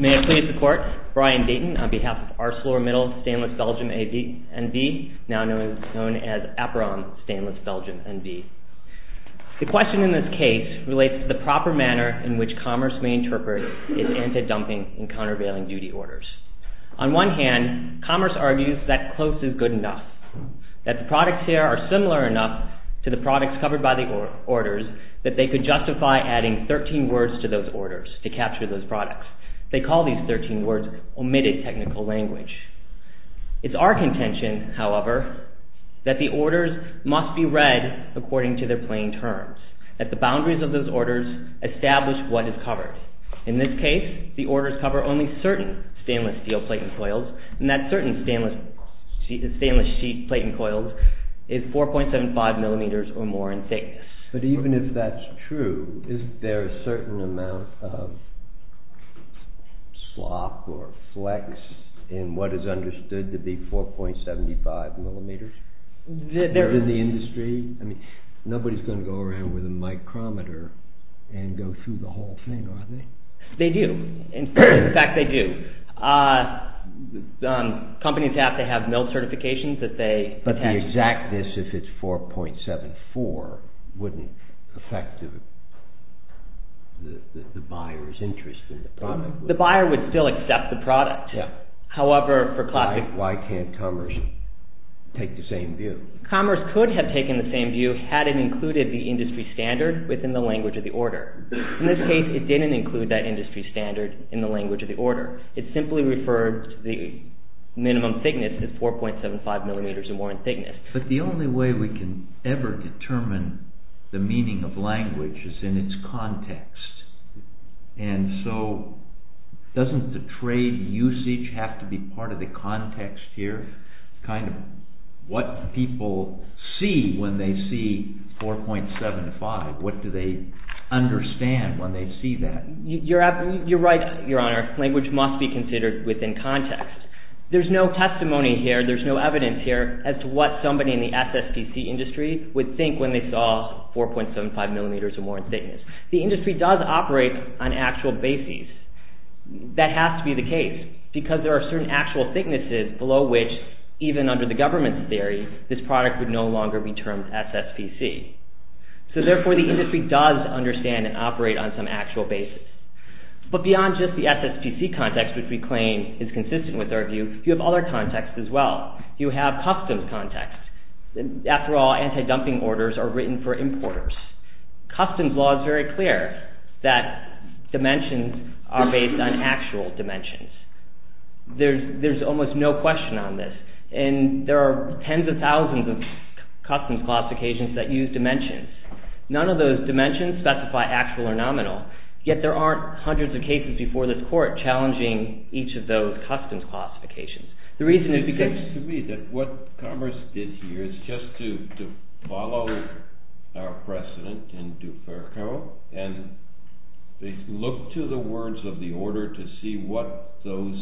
May I please report, Brian Deaton on behalf of ARCELORMITTAL STAINLESS BELGIUM A&V, now known as APROM STAINLESS BELGIUM A&V. The question in this case relates to the proper manner in which commerce may interpret its anti-dumping and countervailing duty orders. On one hand, commerce argues that close is good enough, that the products here are similar enough to the products covered by the orders that they could justify adding 13 words to those orders to capture those products. They call these 13 words omitted technical language. It's our contention, however, that the orders must be read according to their plain terms, that the boundaries of those orders establish what is covered. In this case, the orders cover only certain stainless steel plate and coils, and that certain stainless sheet plate and coils is 4.75 millimeters or more in thickness. But even if that's true, is there a certain amount of slop or flex in what is understood to be 4.75 millimeters in the industry? Nobody's going to go around with a micrometer and go through the whole thing, are they? They do. In fact, they do. Companies have to have mill certifications that they attach. But the exactness, if it's 4.74, wouldn't affect the buyer's interest in the product. The buyer would still accept the product. Yeah. However, for classic... Why can't commerce take the same view? Commerce could have taken the same view had it included the industry standard within the language of the order. In this case, it didn't include that industry standard in the language of the order. It simply referred to the minimum thickness as 4.75 millimeters or more in thickness. But the only way we can ever determine the meaning of language is in its context. And so, doesn't the trade usage have to be part of the context here? Kind of what people see when they see 4.75, what do they understand when they see that? You're right, Your Honor. Language must be considered within context. There's no testimony here, there's no evidence here as to what somebody in the SSPC industry would think when they saw 4.75 millimeters or more in thickness. The industry does operate on actual bases. That has to be the case, because there are certain actual thicknesses below which, even under the government's theory, this product would no longer be termed SSPC. So therefore, the industry does understand and uses actual bases. But beyond just the SSPC context, which we claim is consistent with our view, you have other contexts as well. You have customs contexts. After all, anti-dumping orders are written for importers. Customs law is very clear that dimensions are based on actual dimensions. There's almost no question on this. And there are tens of thousands of customs classifications that use dimensions. None of those dimensions specify actual or nominal, yet there aren't hundreds of cases before this court challenging each of those customs classifications. It seems to me that what Commerce did here is just to follow our precedent and look to the words of the order to see what those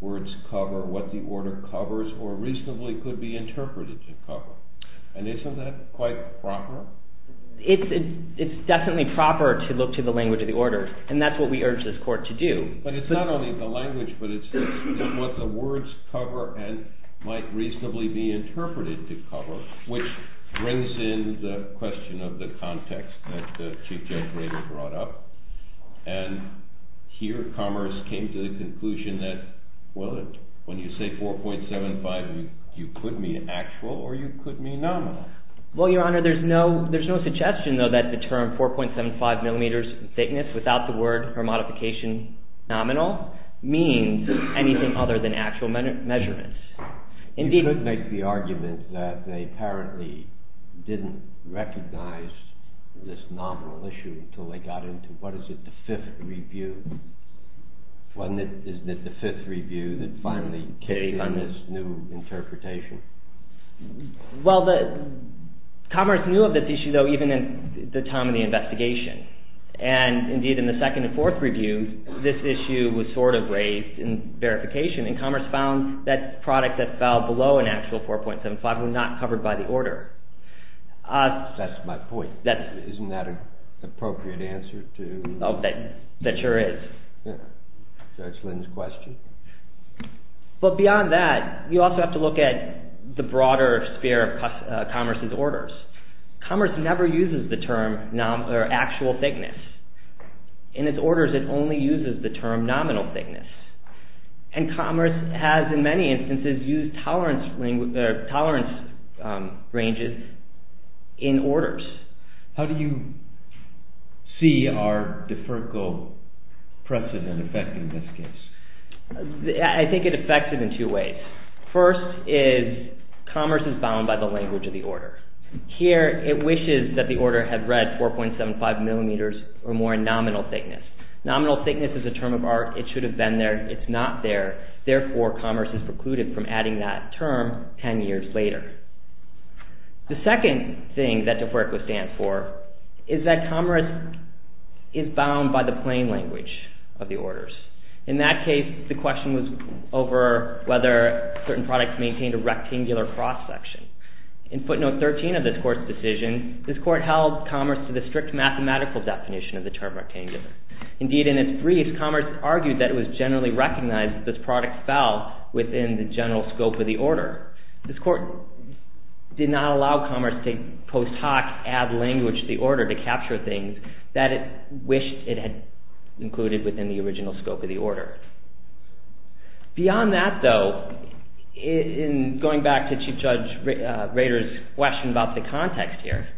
words cover, what the order covers, or reasonably could be interpreted to cover. And isn't that quite proper? It's definitely proper to look to the language of the order, and that's what we urge this court to do. But it's not only the language, but it's what the words cover and might reasonably be interpreted to cover, which brings in the question of the context that Chief Judge Rader brought up. And here Commerce came to the conclusion that, well, when you say 4.75, you could mean actual or you could mean nominal. Well, Your Honor, there's no suggestion, though, that the term 4.75 millimeters thickness without the word or modification nominal means anything other than actual measurements. You could make the argument that they apparently didn't recognize this nominal issue until they got into, what is it, the fifth review? Isn't it the fifth review that finally came in this new interpretation? Well, Commerce knew of this issue, though, even in the time of the investigation. And indeed, in the second and fourth review, this issue was sort of raised in verification, and Commerce found that product that fell below an actual 4.75 was not covered by the order. That's my point. Isn't that an appropriate answer to... Oh, that sure is. That's Lynn's question. But beyond that, you also have to look at the broader sphere of Commerce's orders. Commerce never uses the term actual thickness. In its orders, it only uses the term nominal thickness. And Commerce has, in many instances, used tolerance ranges in orders. How do you see our deferral precedent affecting this case? I think it affects it in two ways. First is Commerce is bound by the language of the order. Here, it wishes that the order had read 4.75 millimeters or more in nominal thickness. Nominal thickness is a term of art. It should have been there. It's not there. Therefore, Commerce is bound by the plain language of the orders. In that case, the question was over whether certain products maintained a rectangular cross-section. In footnote 13 of this Court's decision, this Court held Commerce to the strict mathematical definition of the term rectangular. Indeed, in its brief, Commerce argued that it was generally recognized that this product fell within the language of the order to capture things that it wished it had included within the original scope of the order. Beyond that, though, in going back to Chief Judge Rader's question about the context here,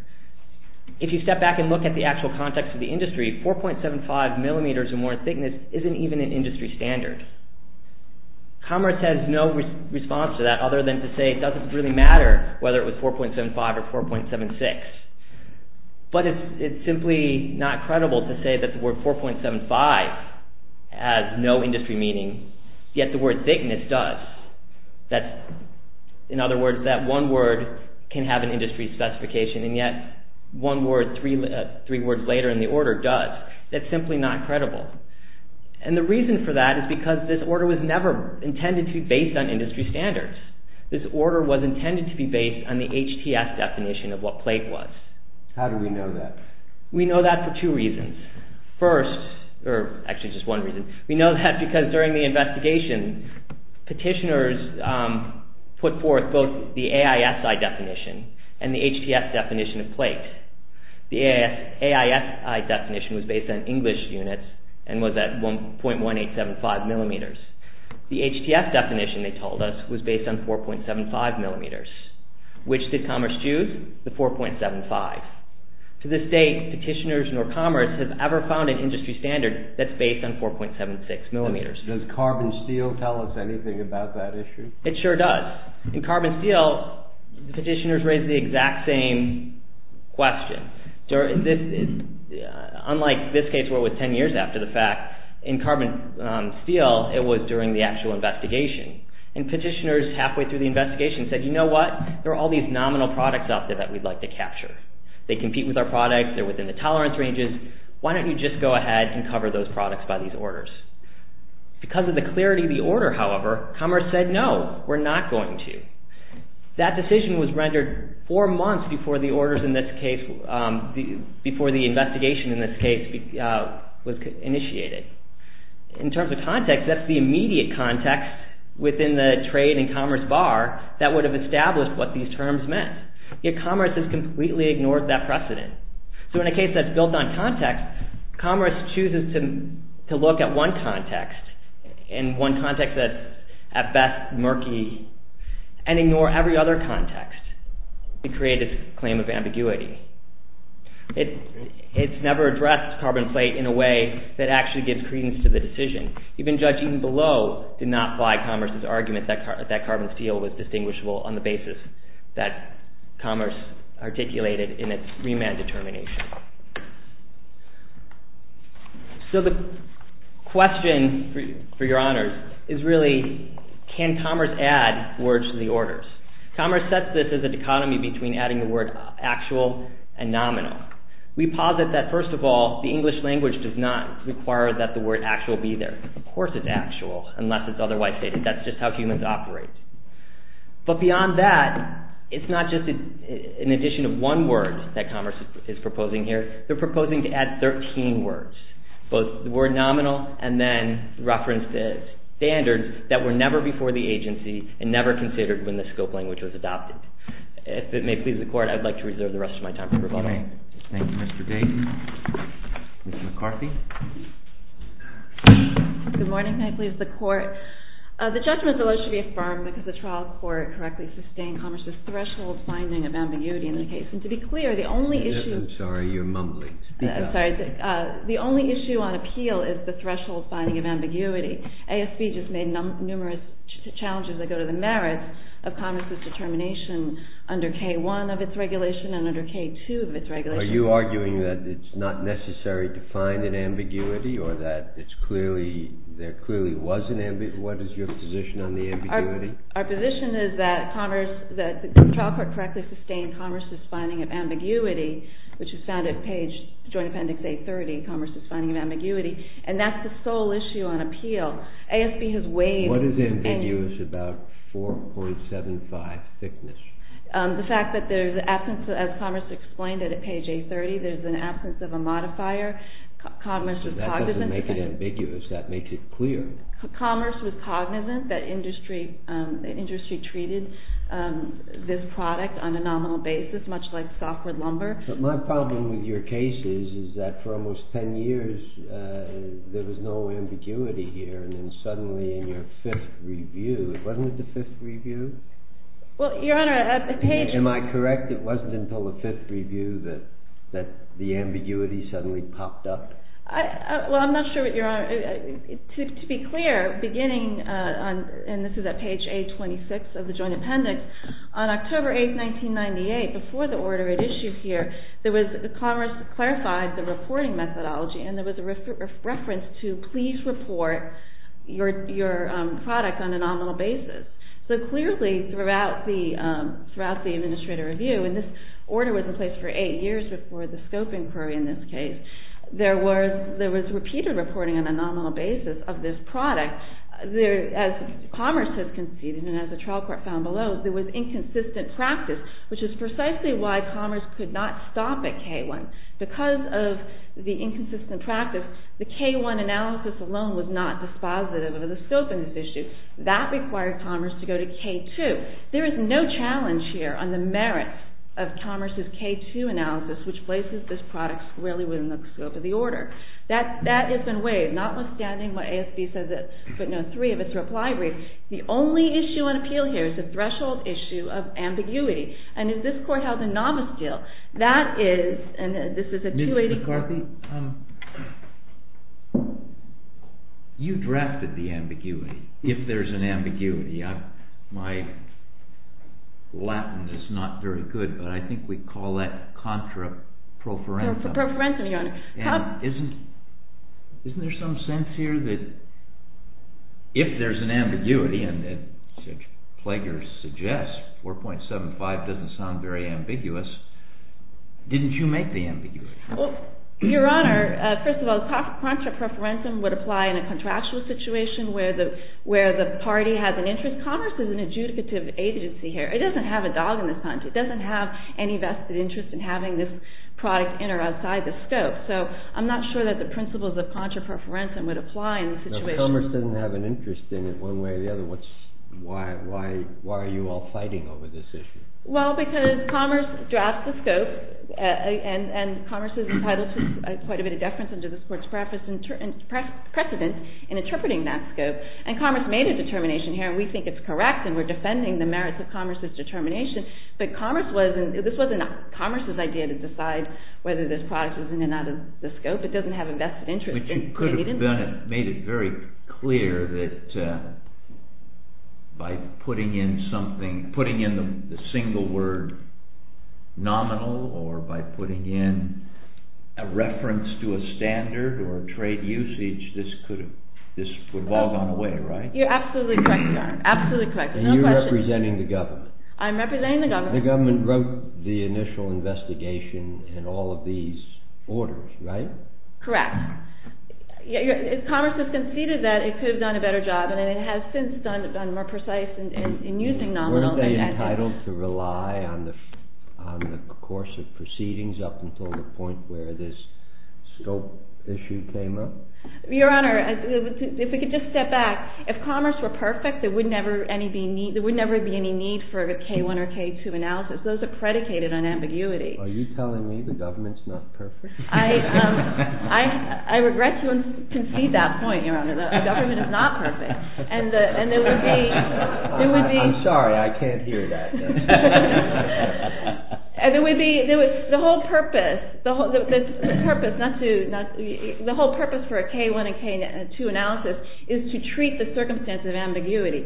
if you step back and look at the actual context of the industry, 4.75 millimeters or more thickness isn't even an industry standard. Commerce has no response to that other than to say it doesn't really matter whether it was 4.75 or 4.76, but it's simply not credible to say that the word 4.75 has no industry meaning, yet the word thickness does. In other words, that one word can have an industry specification, and yet one word three words later in the order does. That's simply not credible. The reason for that is because this order was never intended to be based on the HTS definition of what plate was. How do we know that? We know that for two reasons. First, or actually just one reason, we know that because during the investigation, petitioners put forth both the AISI definition and the HTS definition of plate. The AISI definition was based on English units and was at 1.1875 millimeters. The HTS definition, they told us, was based on 4.75 millimeters which did Commerce choose? The 4.75. To this day, petitioners nor Commerce have ever found an industry standard that's based on 4.76 millimeters. Does carbon steel tell us anything about that issue? It sure does. In carbon steel, the petitioners raise the exact same question. Unlike this case where it was 10 years after the fact, in carbon steel, it was during the actual investigation, and petitioners halfway through the investigation said, you know what? There are all these nominal products out there that we'd like to capture. They compete with our products. They're within the tolerance ranges. Why don't you just go ahead and cover those products by these orders? Because of the clarity of the order, however, Commerce said, no, we're not going to. That decision was rendered four months before the investigation in this case was initiated. In terms of context, that's the trade and commerce bar that would have established what these terms meant. Yet Commerce has completely ignored that precedent. So in a case that's built on context, Commerce chooses to look at one context, and one context that's at best murky, and ignore every other context. It created this claim of ambiguity. It's never addressed carbon plate in a way that actually gives credence to the decision. Even judging below did not fly Commerce's argument that carbon steel was distinguishable on the basis that Commerce articulated in its remand determination. So the question, for your honors, is really, can Commerce add words to the orders? Commerce sets this as a dichotomy between adding the word actual and nominal. We posit that, first of all, the English language does not require that the word actual be there. Of course it's actual, unless it's otherwise stated. That's just how humans operate. But beyond that, it's not just an addition of one word that Commerce is proposing here. They're proposing to add 13 words, both the word nominal, and then reference the standards that were never before the agency, and never considered when the scope language was adopted. If it may please the Court, I'd like to reserve the rest of my time for rebuttal. Thank you, Mr. Dayton. Ms. McCarthy? Good morning. Can I please the Court? The judgment is alleged to be affirmed because the trial court correctly sustained Commerce's threshold finding of ambiguity in the case. And to be clear, the only issue on appeal is the threshold finding of ambiguity. ASB just made numerous challenges that go to the merits of Commerce's determination under K-1 of its regulations. Are you arguing that it's not necessary to find an ambiguity, or that there clearly was an ambiguity? What is your position on the ambiguity? Our position is that Commerce, that the trial court correctly sustained Commerce's finding of ambiguity, which is found at page, Joint Appendix A-30, Commerce's finding of ambiguity. And that's the sole issue on appeal. ASB has weighed... What is ambiguous about 4.75 thickness? The fact that there's absence, as Commerce explained at page A-30, there's an absence of a modifier. Commerce was cognizant... That doesn't make it ambiguous. That makes it clear. Commerce was cognizant that industry treated this product on a nominal basis, much like softwood lumber. But my problem with your case is, is that for almost 10 years, there was no ambiguity here. And then suddenly in your review, wasn't it the fifth review? Well, Your Honor, at the page... Am I correct? It wasn't until the fifth review that the ambiguity suddenly popped up? Well, I'm not sure what you're... To be clear, beginning on, and this is at page A-26 of the Joint Appendix, on October 8th, 1998, before the order it issued here, there was... Commerce clarified the reporting methodology, and there was a reference to, please report your product on a nominal basis. So clearly, throughout the Administrator Review, and this order was in place for eight years before the scope inquiry in this case, there was repeated reporting on a nominal basis of this product. As Commerce has conceded, and as the trial court found below, there was inconsistent practice, which is precisely why Commerce could not stop at K-1. Because of the inconsistent practice, the K-1 analysis alone was not dispositive of the scope of this issue. That required Commerce to go to K-2. There is no challenge here on the merit of Commerce's K-2 analysis, which places this product really within the scope of the order. That has been waived, notwithstanding what ASB says it, but note three of its reply brief. The only issue on appeal here is the threshold issue of ambiguity. And as this court held a novice appeal, that is... Ms. McCarthy, you drafted the ambiguity. If there's an ambiguity, my Latin is not very good, but I think we call that contra pro forensum. Isn't there some sense here that if there's an ambiguity, and the plagiarist suggests 4.75 doesn't sound very ambiguous, didn't you make the ambiguity? Your Honor, first of all, contra pro forensum would apply in a contractual situation where the party has an interest. Commerce is an adjudicative agency here. It doesn't have a dog in the punch. It doesn't have any vested interest in having this product in or outside the scope. So I'm not sure that the principles of contra pro forensum would apply in this situation. If Commerce doesn't have an interest in it one way or the other, why are you all fighting over this issue? Well, because Commerce drafts the scope, and Commerce is entitled to quite a bit of deference under this court's precedence in interpreting that scope. And Commerce made a determination here, and we think it's correct, and we're defending the merits of Commerce's determination. But Commerce wasn't... This wasn't Commerce's idea to decide whether this product was in and out of the scope. It doesn't have a vested interest. But you could have made it very clear that by putting in the single word nominal, or by putting in a reference to a standard or a trade usage, this would have all gone away, right? You're absolutely correct, Your Honor. Absolutely correct. And you're representing the government. I'm representing the government. The government wrote the initial draft. If Commerce had conceded that, it could have done a better job, and it has since done more precise in using nominal. Were they entitled to rely on the course of proceedings up until the point where this scope issue came up? Your Honor, if we could just step back. If Commerce were perfect, there would never be any need for a K-1 or K-2 analysis. Those are predicated on I regret to concede that point, Your Honor. The government is not perfect. I'm sorry. I can't hear that. The whole purpose for a K-1 and K-2 analysis is to treat the circumstances of ambiguity.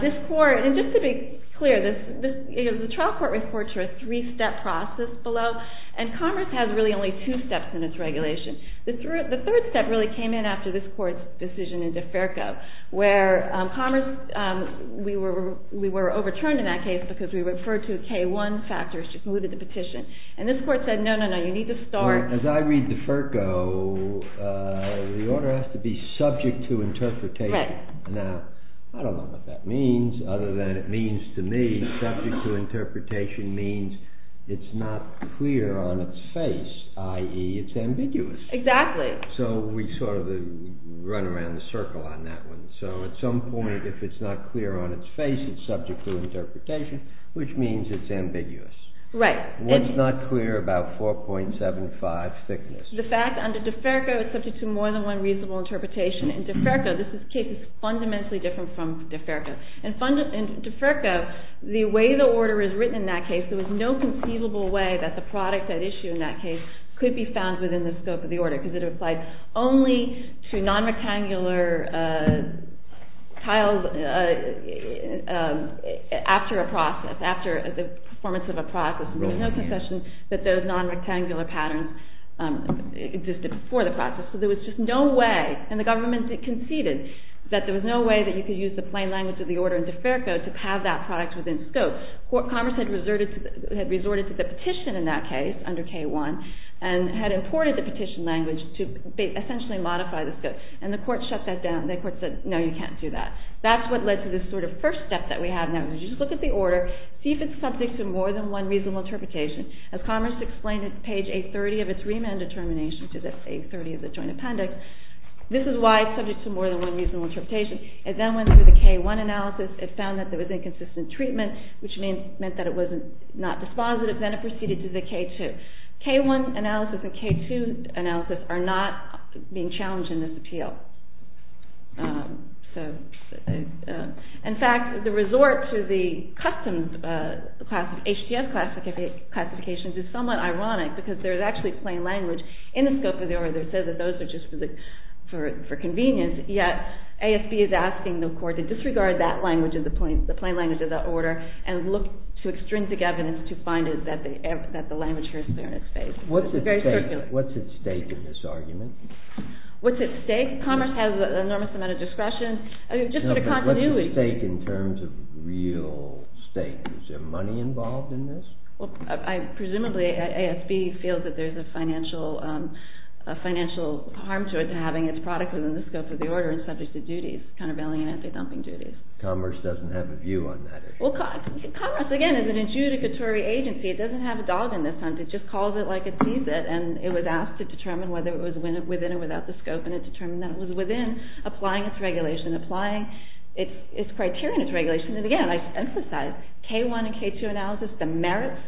Just to be clear, the trial court reports are a three-step process below, and Commerce has really two steps in its regulation. The third step really came in after this court's decision in Deferco, where Commerce, we were overturned in that case because we referred to K-1 factors, which included the petition. And this court said, no, no, no, you need to start. As I read Deferco, the order has to be subject to interpretation. Now, I don't know what that means other than it means to me, subject to interpretation means it's not clear on its face. It's ambiguous. Exactly. So we sort of run around the circle on that one. So at some point, if it's not clear on its face, it's subject to interpretation, which means it's ambiguous. Right. What's not clear about 4.75 thickness? The fact under Deferco, it's subject to more than one reasonable interpretation. In Deferco, this case is fundamentally different from Deferco. In Deferco, the way the order is written in that case, there was no conceivable way that the could be found within the scope of the order because it applied only to non-rectangular tiles after a process, after the performance of a process. There was no concession that those non-rectangular patterns existed before the process. So there was just no way, and the government conceded that there was no way that you could use the plain language of the order in Deferco to have that product within scope. Commerce had resorted to the petition in that under K1 and had imported the petition language to essentially modify the scope, and the court shut that down. The court said, no, you can't do that. That's what led to this sort of first step that we have now, which is look at the order, see if it's subject to more than one reasonable interpretation. As Commerce explained at page 830 of its remand determination to the 830 of the joint appendix, this is why it's subject to more than one reasonable interpretation. It then went through the K1 analysis. It found that there was inconsistent treatment, which meant that it was not dispositive. Then it proceeded to the K2. K1 analysis and K2 analysis are not being challenged in this appeal. In fact, the resort to the custom HDS classifications is somewhat ironic because there's actually plain language in the scope of the order that says that those are just for convenience, yet ASB is asking the court to and look to extrinsic evidence to find that the language is clear in its face. What's at stake in this argument? What's at stake? Commerce has an enormous amount of discretion. No, but what's at stake in terms of real stake? Is there money involved in this? Well, presumably ASB feels that there's a financial harm to it to having its product within the scope of the order and subject to duties, countervailing and anti-dumping duties. Commerce doesn't have a view on that? Well, Commerce, again, is an adjudicatory agency. It doesn't have a dog in this hunt. It just calls it like it sees it, and it was asked to determine whether it was within or without the scope, and it determined that it was within, applying its regulation, applying its criteria and its regulation. And again, I emphasize, K1 and K2 analysis, the merits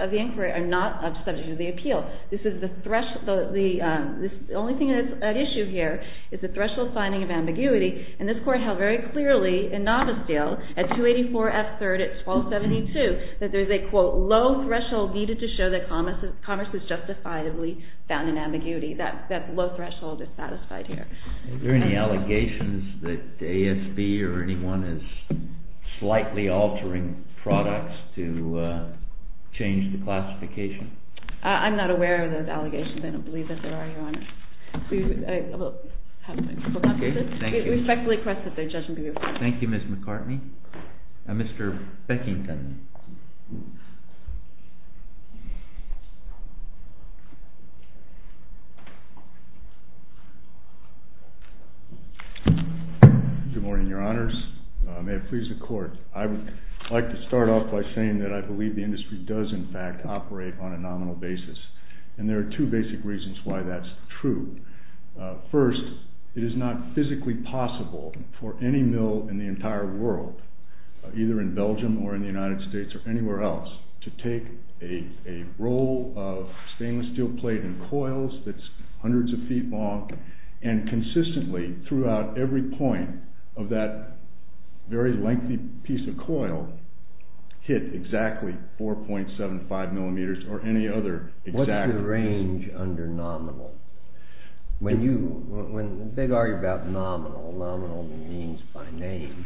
of the inquiry are not subject to the appeal. The only issue here is the threshold finding of ambiguity, and this Court held very clearly in Novice Deal at 284 F3rd at 1272, that there's a quote, low threshold needed to show that Commerce is justifiably found in ambiguity. That low threshold is satisfied here. Are there any allegations that ASB or anyone is slightly altering products to change the classification? I'm not aware of those allegations. I don't believe that there are, Your Honor. We respectfully request that the judgment be referred to. Thank you, Ms. McCartney. Mr. Beckington. Good morning, Your Honors. May it please the Court. I would like to start off by saying that I believe the industry does, in fact, operate on a nominal basis, and there are two basic reasons why that's true. First, it is not physically possible for any mill in the entire world, either in Belgium or in the United States or anywhere else, to take a roll of stainless steel plate and coils that's hundreds of feet long, and consistently, throughout every point of that very lengthy piece of coil, hit exactly 4.75 millimeters or any other exact... Nominal. They've argued about nominal. Nominal means by name,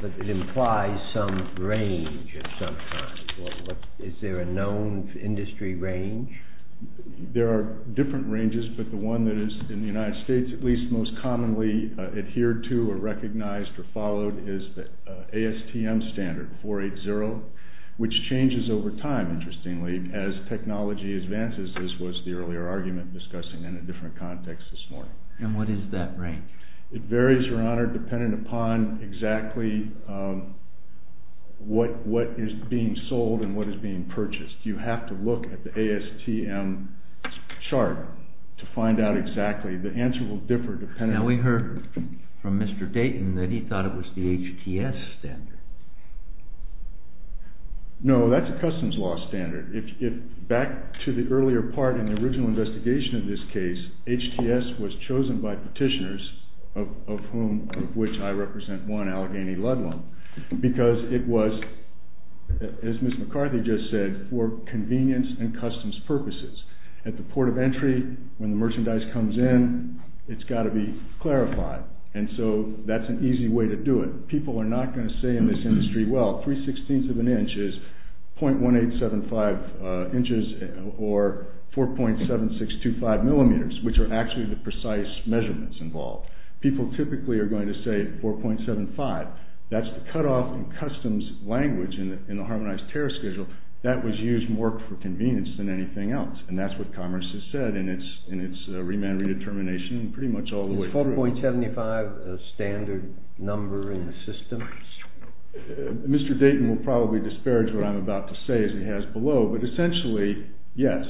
but it implies some range of some kind. Is there a known industry range? There are different ranges, but the one that is, in the United States, at least most commonly adhered to or recognized or followed is the ASTM standard, 480, which changes over time, interestingly, as technology advances. This was the earlier argument discussing in a different context this morning. And what is that range? It varies, Your Honor, dependent upon exactly what is being sold and what is being purchased. You have to look at the ASTM chart to find out exactly. The answer will differ depending... Now we heard from Mr. Dayton that he thought it was the HTS standard. No, that's a customs law standard. Back to the earlier part in the original investigation of this case, HTS was chosen by petitioners, of whom, of which I represent one, Allegheny Ludlum, because it was, as Ms. McCarthy just said, for convenience and customs purposes. At the port of entry, when the merchandise comes in, it's got to be clarified. And so that's an easy way to do it. People are not going to say in this industry, well, three-sixteenths of an inch is .1875 inches or 4.7625 millimeters, which are actually the precise measurements involved. People typically are going to say 4.75. That's the cutoff in customs language in the Harmonized Terror Schedule. That was used more for convenience than anything else. And that's what Congress has said in its remand redetermination and pretty much all the way through. Is 4.75 a standard number in the system? Mr. Dayton will probably disparage what I'm about to say as he has below, but essentially, yes.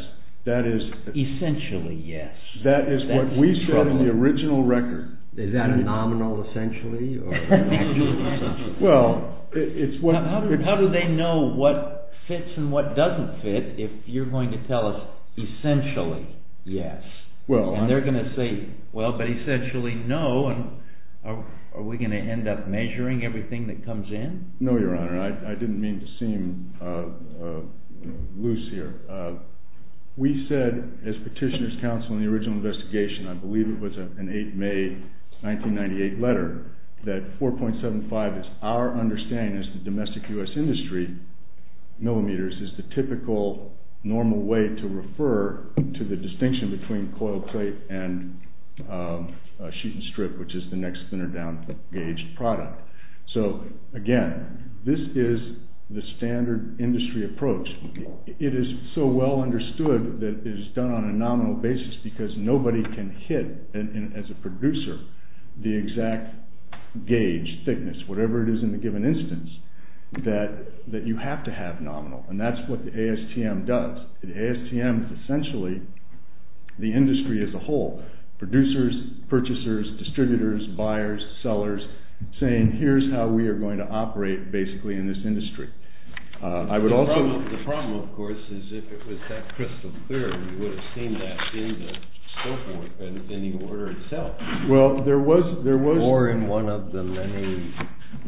That is... Essentially, yes. That is what we said in the original record. Is that a nominal essentially? How do they know what fits and what doesn't fit if you're going to tell us essentially yes? And they're going to say, well, but essentially no. And are we going to end up measuring everything that comes in? No, Your Honor. I didn't mean to seem loose here. We said, as Petitioner's Counsel in the original investigation, I believe it was an 8 May 1998 letter, that 4.75 is our understanding as the domestic U.S. industry millimeters is the typical normal way to refer to the distinction between coil plate and a sheet and strip, which is the next thinner down gauged product. So again, this is the standard industry approach. It is so well understood that it is done on a nominal basis because nobody can hit as a producer, the exact gauge thickness, whatever it is in the given instance, that you have to have nominal. And that's what the ASTM does. The ASTM is essentially the industry as a whole. Producers, purchasers, distributors, buyers, sellers saying, here's how we are going to operate basically in this industry. I would also... The problem, of course, is if it was that crystal clear, we would have seen that in the scope work and in the order itself. Well, there was... Or in one of the many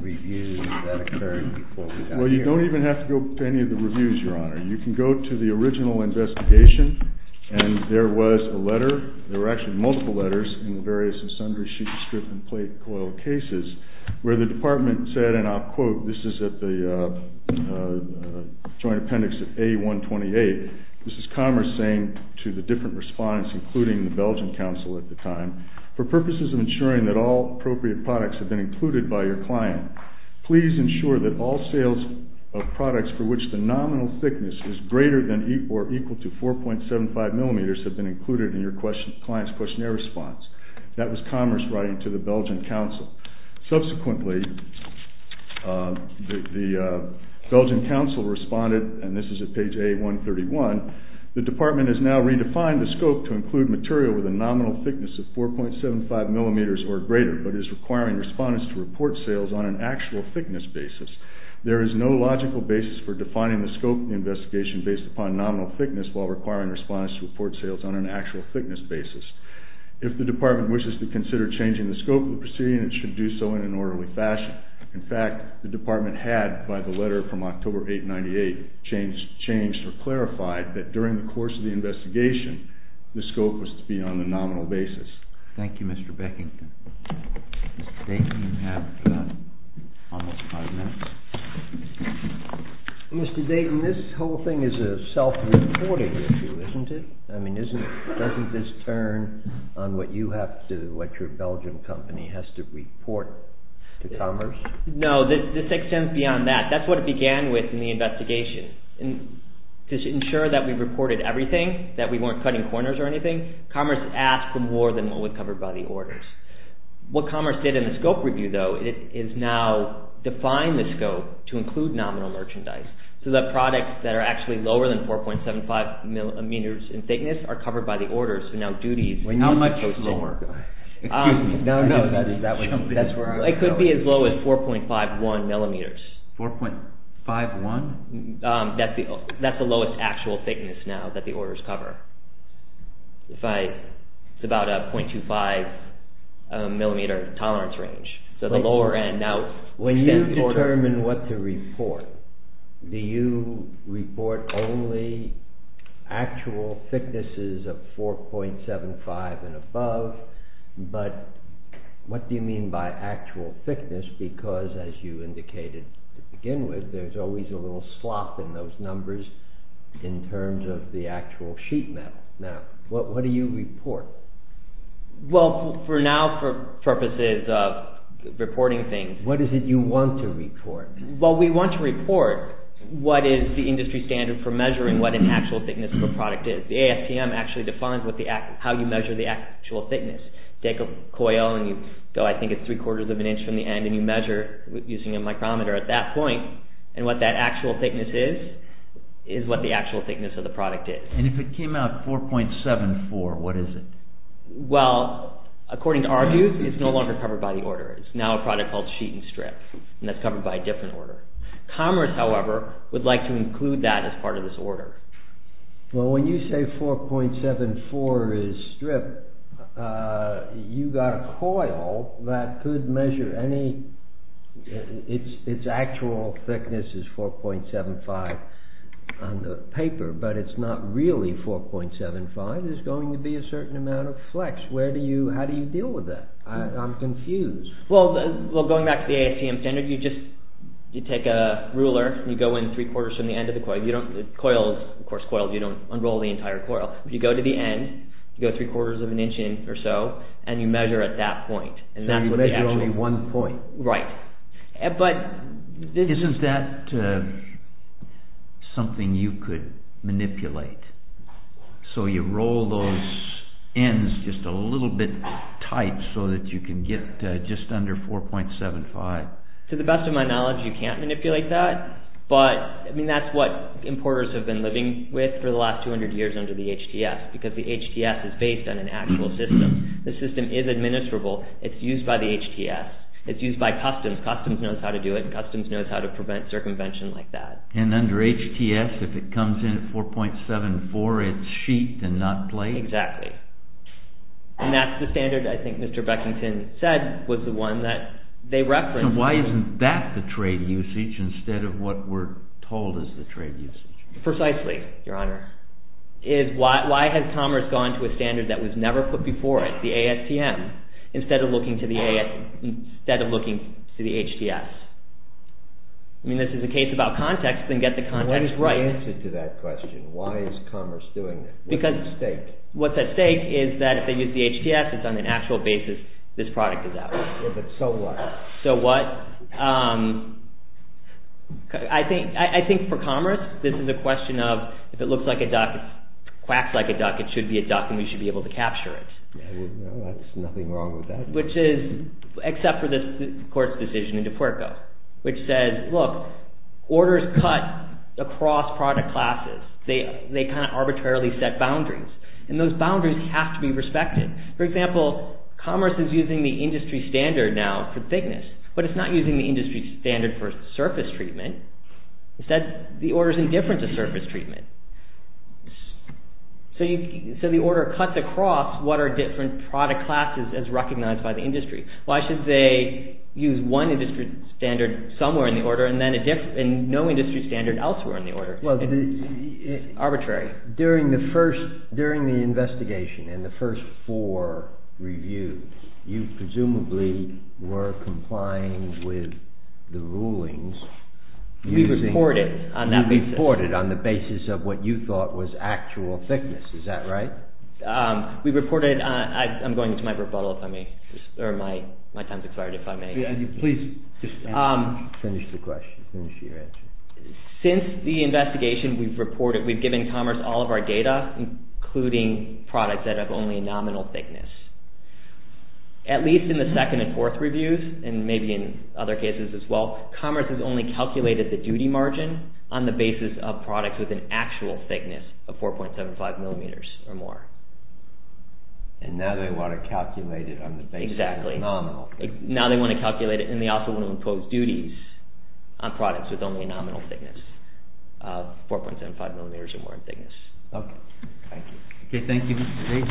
reviews that occurred before we got here. Well, you don't even have to go to any of the reviews, Your Honor. You can go to the original investigation and there was a letter, there were actually multiple letters in the various sundry sheet and strip and plate coil cases where the department said, and I'll quote, this is at the joint appendix of A128. This is Commerce saying to the different respondents, including the Belgian Council at the time, for purposes of ensuring that all appropriate products have been included by your client, please ensure that all sales of products for which the nominal thickness is greater than or equal to 4.75 millimeters have been included in your client's questionnaire response. That was Commerce writing to the Belgian Council. Subsequently, the Belgian Council responded, and this is at page A131, the department has now redefined the scope to include material with a nominal thickness of 4.75 millimeters or greater, but is requiring respondents to report sales on an actual thickness basis. There is no logical basis for defining the scope of the investigation based upon nominal thickness while requiring respondents to report sales on an actual thickness basis. If the department wishes to consider changing the scope of the proceeding, it should do so in an orderly fashion. In fact, the department had, by the letter from October 898, changed or clarified that during the course of the investigation, the scope was to be on the nominal basis. Thank you, Mr. Beckington. Mr. Dayton, you have almost five minutes. Mr. Dayton, this whole thing is a self-reporting issue, isn't it? I mean, doesn't this turn on what you have to, what your Belgian company has to report to Commerce? No, this extends beyond that. That's what it began with in the investigation. To ensure that we reported everything, that we weren't cutting corners or anything, Commerce asked for more than what was covered by the orders. What Commerce did in the scope review, though, is now define the scope to include nominal merchandise, so that products that are actually lower than 4.75 millimeters in thickness are covered by the orders. How much lower? It could be as low as 4.51 millimeters. 4.51? That's the lowest actual thickness now that the orders cover. It's about a 0.25 millimeter tolerance range. So, the lower end. Now, when you determine what to report, do you report only actual thicknesses of 4.75 and above, but what do you mean by actual thickness? Because, as you indicated to begin with, there's always a little slop in those numbers in terms of the actual sheet metal. Now, what do you report? Well, for now, for purposes of reporting things... What is it you want to report? Well, we want to report what is the industry standard for measuring what an actual thickness of a product is. The ASTM actually defines how you measure the actual thickness. Take a coil, and you go, I think it's three quarters of an inch from the end, and you measure using a micrometer at that point, and what that actual thickness is, is what the actual thickness of the product is. And if it came out 4.74, what is it? Well, according to our view, it's no longer covered by the order. It's now a product called sheet and strip, and that's covered by a different order. Commerce, however, would like to include that as part of this order. Well, when you say 4.74 is strip, you've got a coil that could measure any... It's actual thickness is 4.75 on the paper, but it's not really 4.75. There's going to be a certain amount of flex. How do you deal with that? I'm confused. Well, going back to the ASTM standard, you take a ruler, and you go in three quarters from the end of the coil. Coils, of course, you don't unroll the entire coil. You go to the end, you go three quarters of an inch in or so, and you measure at that point. And you measure only one point. Right. Isn't that something you could manipulate? So you roll those ends just a little bit tight so that you can get just under 4.75? To the best of my knowledge, you can't manipulate that, but that's what importers have been living with for the last 200 years under the HTS, because the HTS is based on an actual system. The system is administrable. It's used by the HTS. It's used by customs. Customs knows how to do it. Customs knows how to prevent circumvention like that. And under HTS, if it comes in at 4.74, it's sheet and not plate? Exactly. And that's the standard I think Mr. Beckington said was the one that they referenced. Why isn't that the trade usage instead of what we're told is the trade usage? Precisely, Your Honor. Why has commerce gone to a standard that was never put before it, the ASTM, instead of looking to the HTS? I mean, this is a case about context, then get the context right. What's the answer to that question? Why is commerce doing it? What's at stake? What's at stake is that if they use the HTS, it's on an actual basis this product is out. Yeah, but so what? So what? I think for commerce, this is a question of if it looks like a duck, quacks like a duck, it should be a duck and we should be able to capture it. There's nothing wrong with that. Which is, except for this court's decision in DeFuerco, which says, look, orders cut across product classes. They kind of arbitrarily set boundaries. And those boundaries have to be respected. For example, commerce is using the industry standard now for thickness, but it's not using the industry standard for surface treatment. Instead, the order's indifferent to surface treatment. So the order cuts across what are different product classes as recognized by the industry. Why should they use one industry standard somewhere in the order and then no industry standard elsewhere in the order? It's arbitrary. During the investigation and the first four reviews, you presumably were complying with the rulings. We reported on that basis. You reported on the basis of what you thought was actual thickness. Is that right? We reported, I'm going into my rebuttal if I may, or my time's expired, if I may. Finish the question, finish your answer. Since the investigation, we've reported, we've given commerce all of our data, including products that have only nominal thickness. At least in the second and fourth reviews, and maybe in other cases as well, commerce has only calculated the duty margin on the basis of products with an actual thickness of 4.75 millimeters or more. And now they want to calculate it on the basis of nominal. Now they want to calculate it, and they also want to impose duties on products with only a nominal thickness of 4.75 millimeters or more in thickness. Okay. Thank you. Okay, thank you.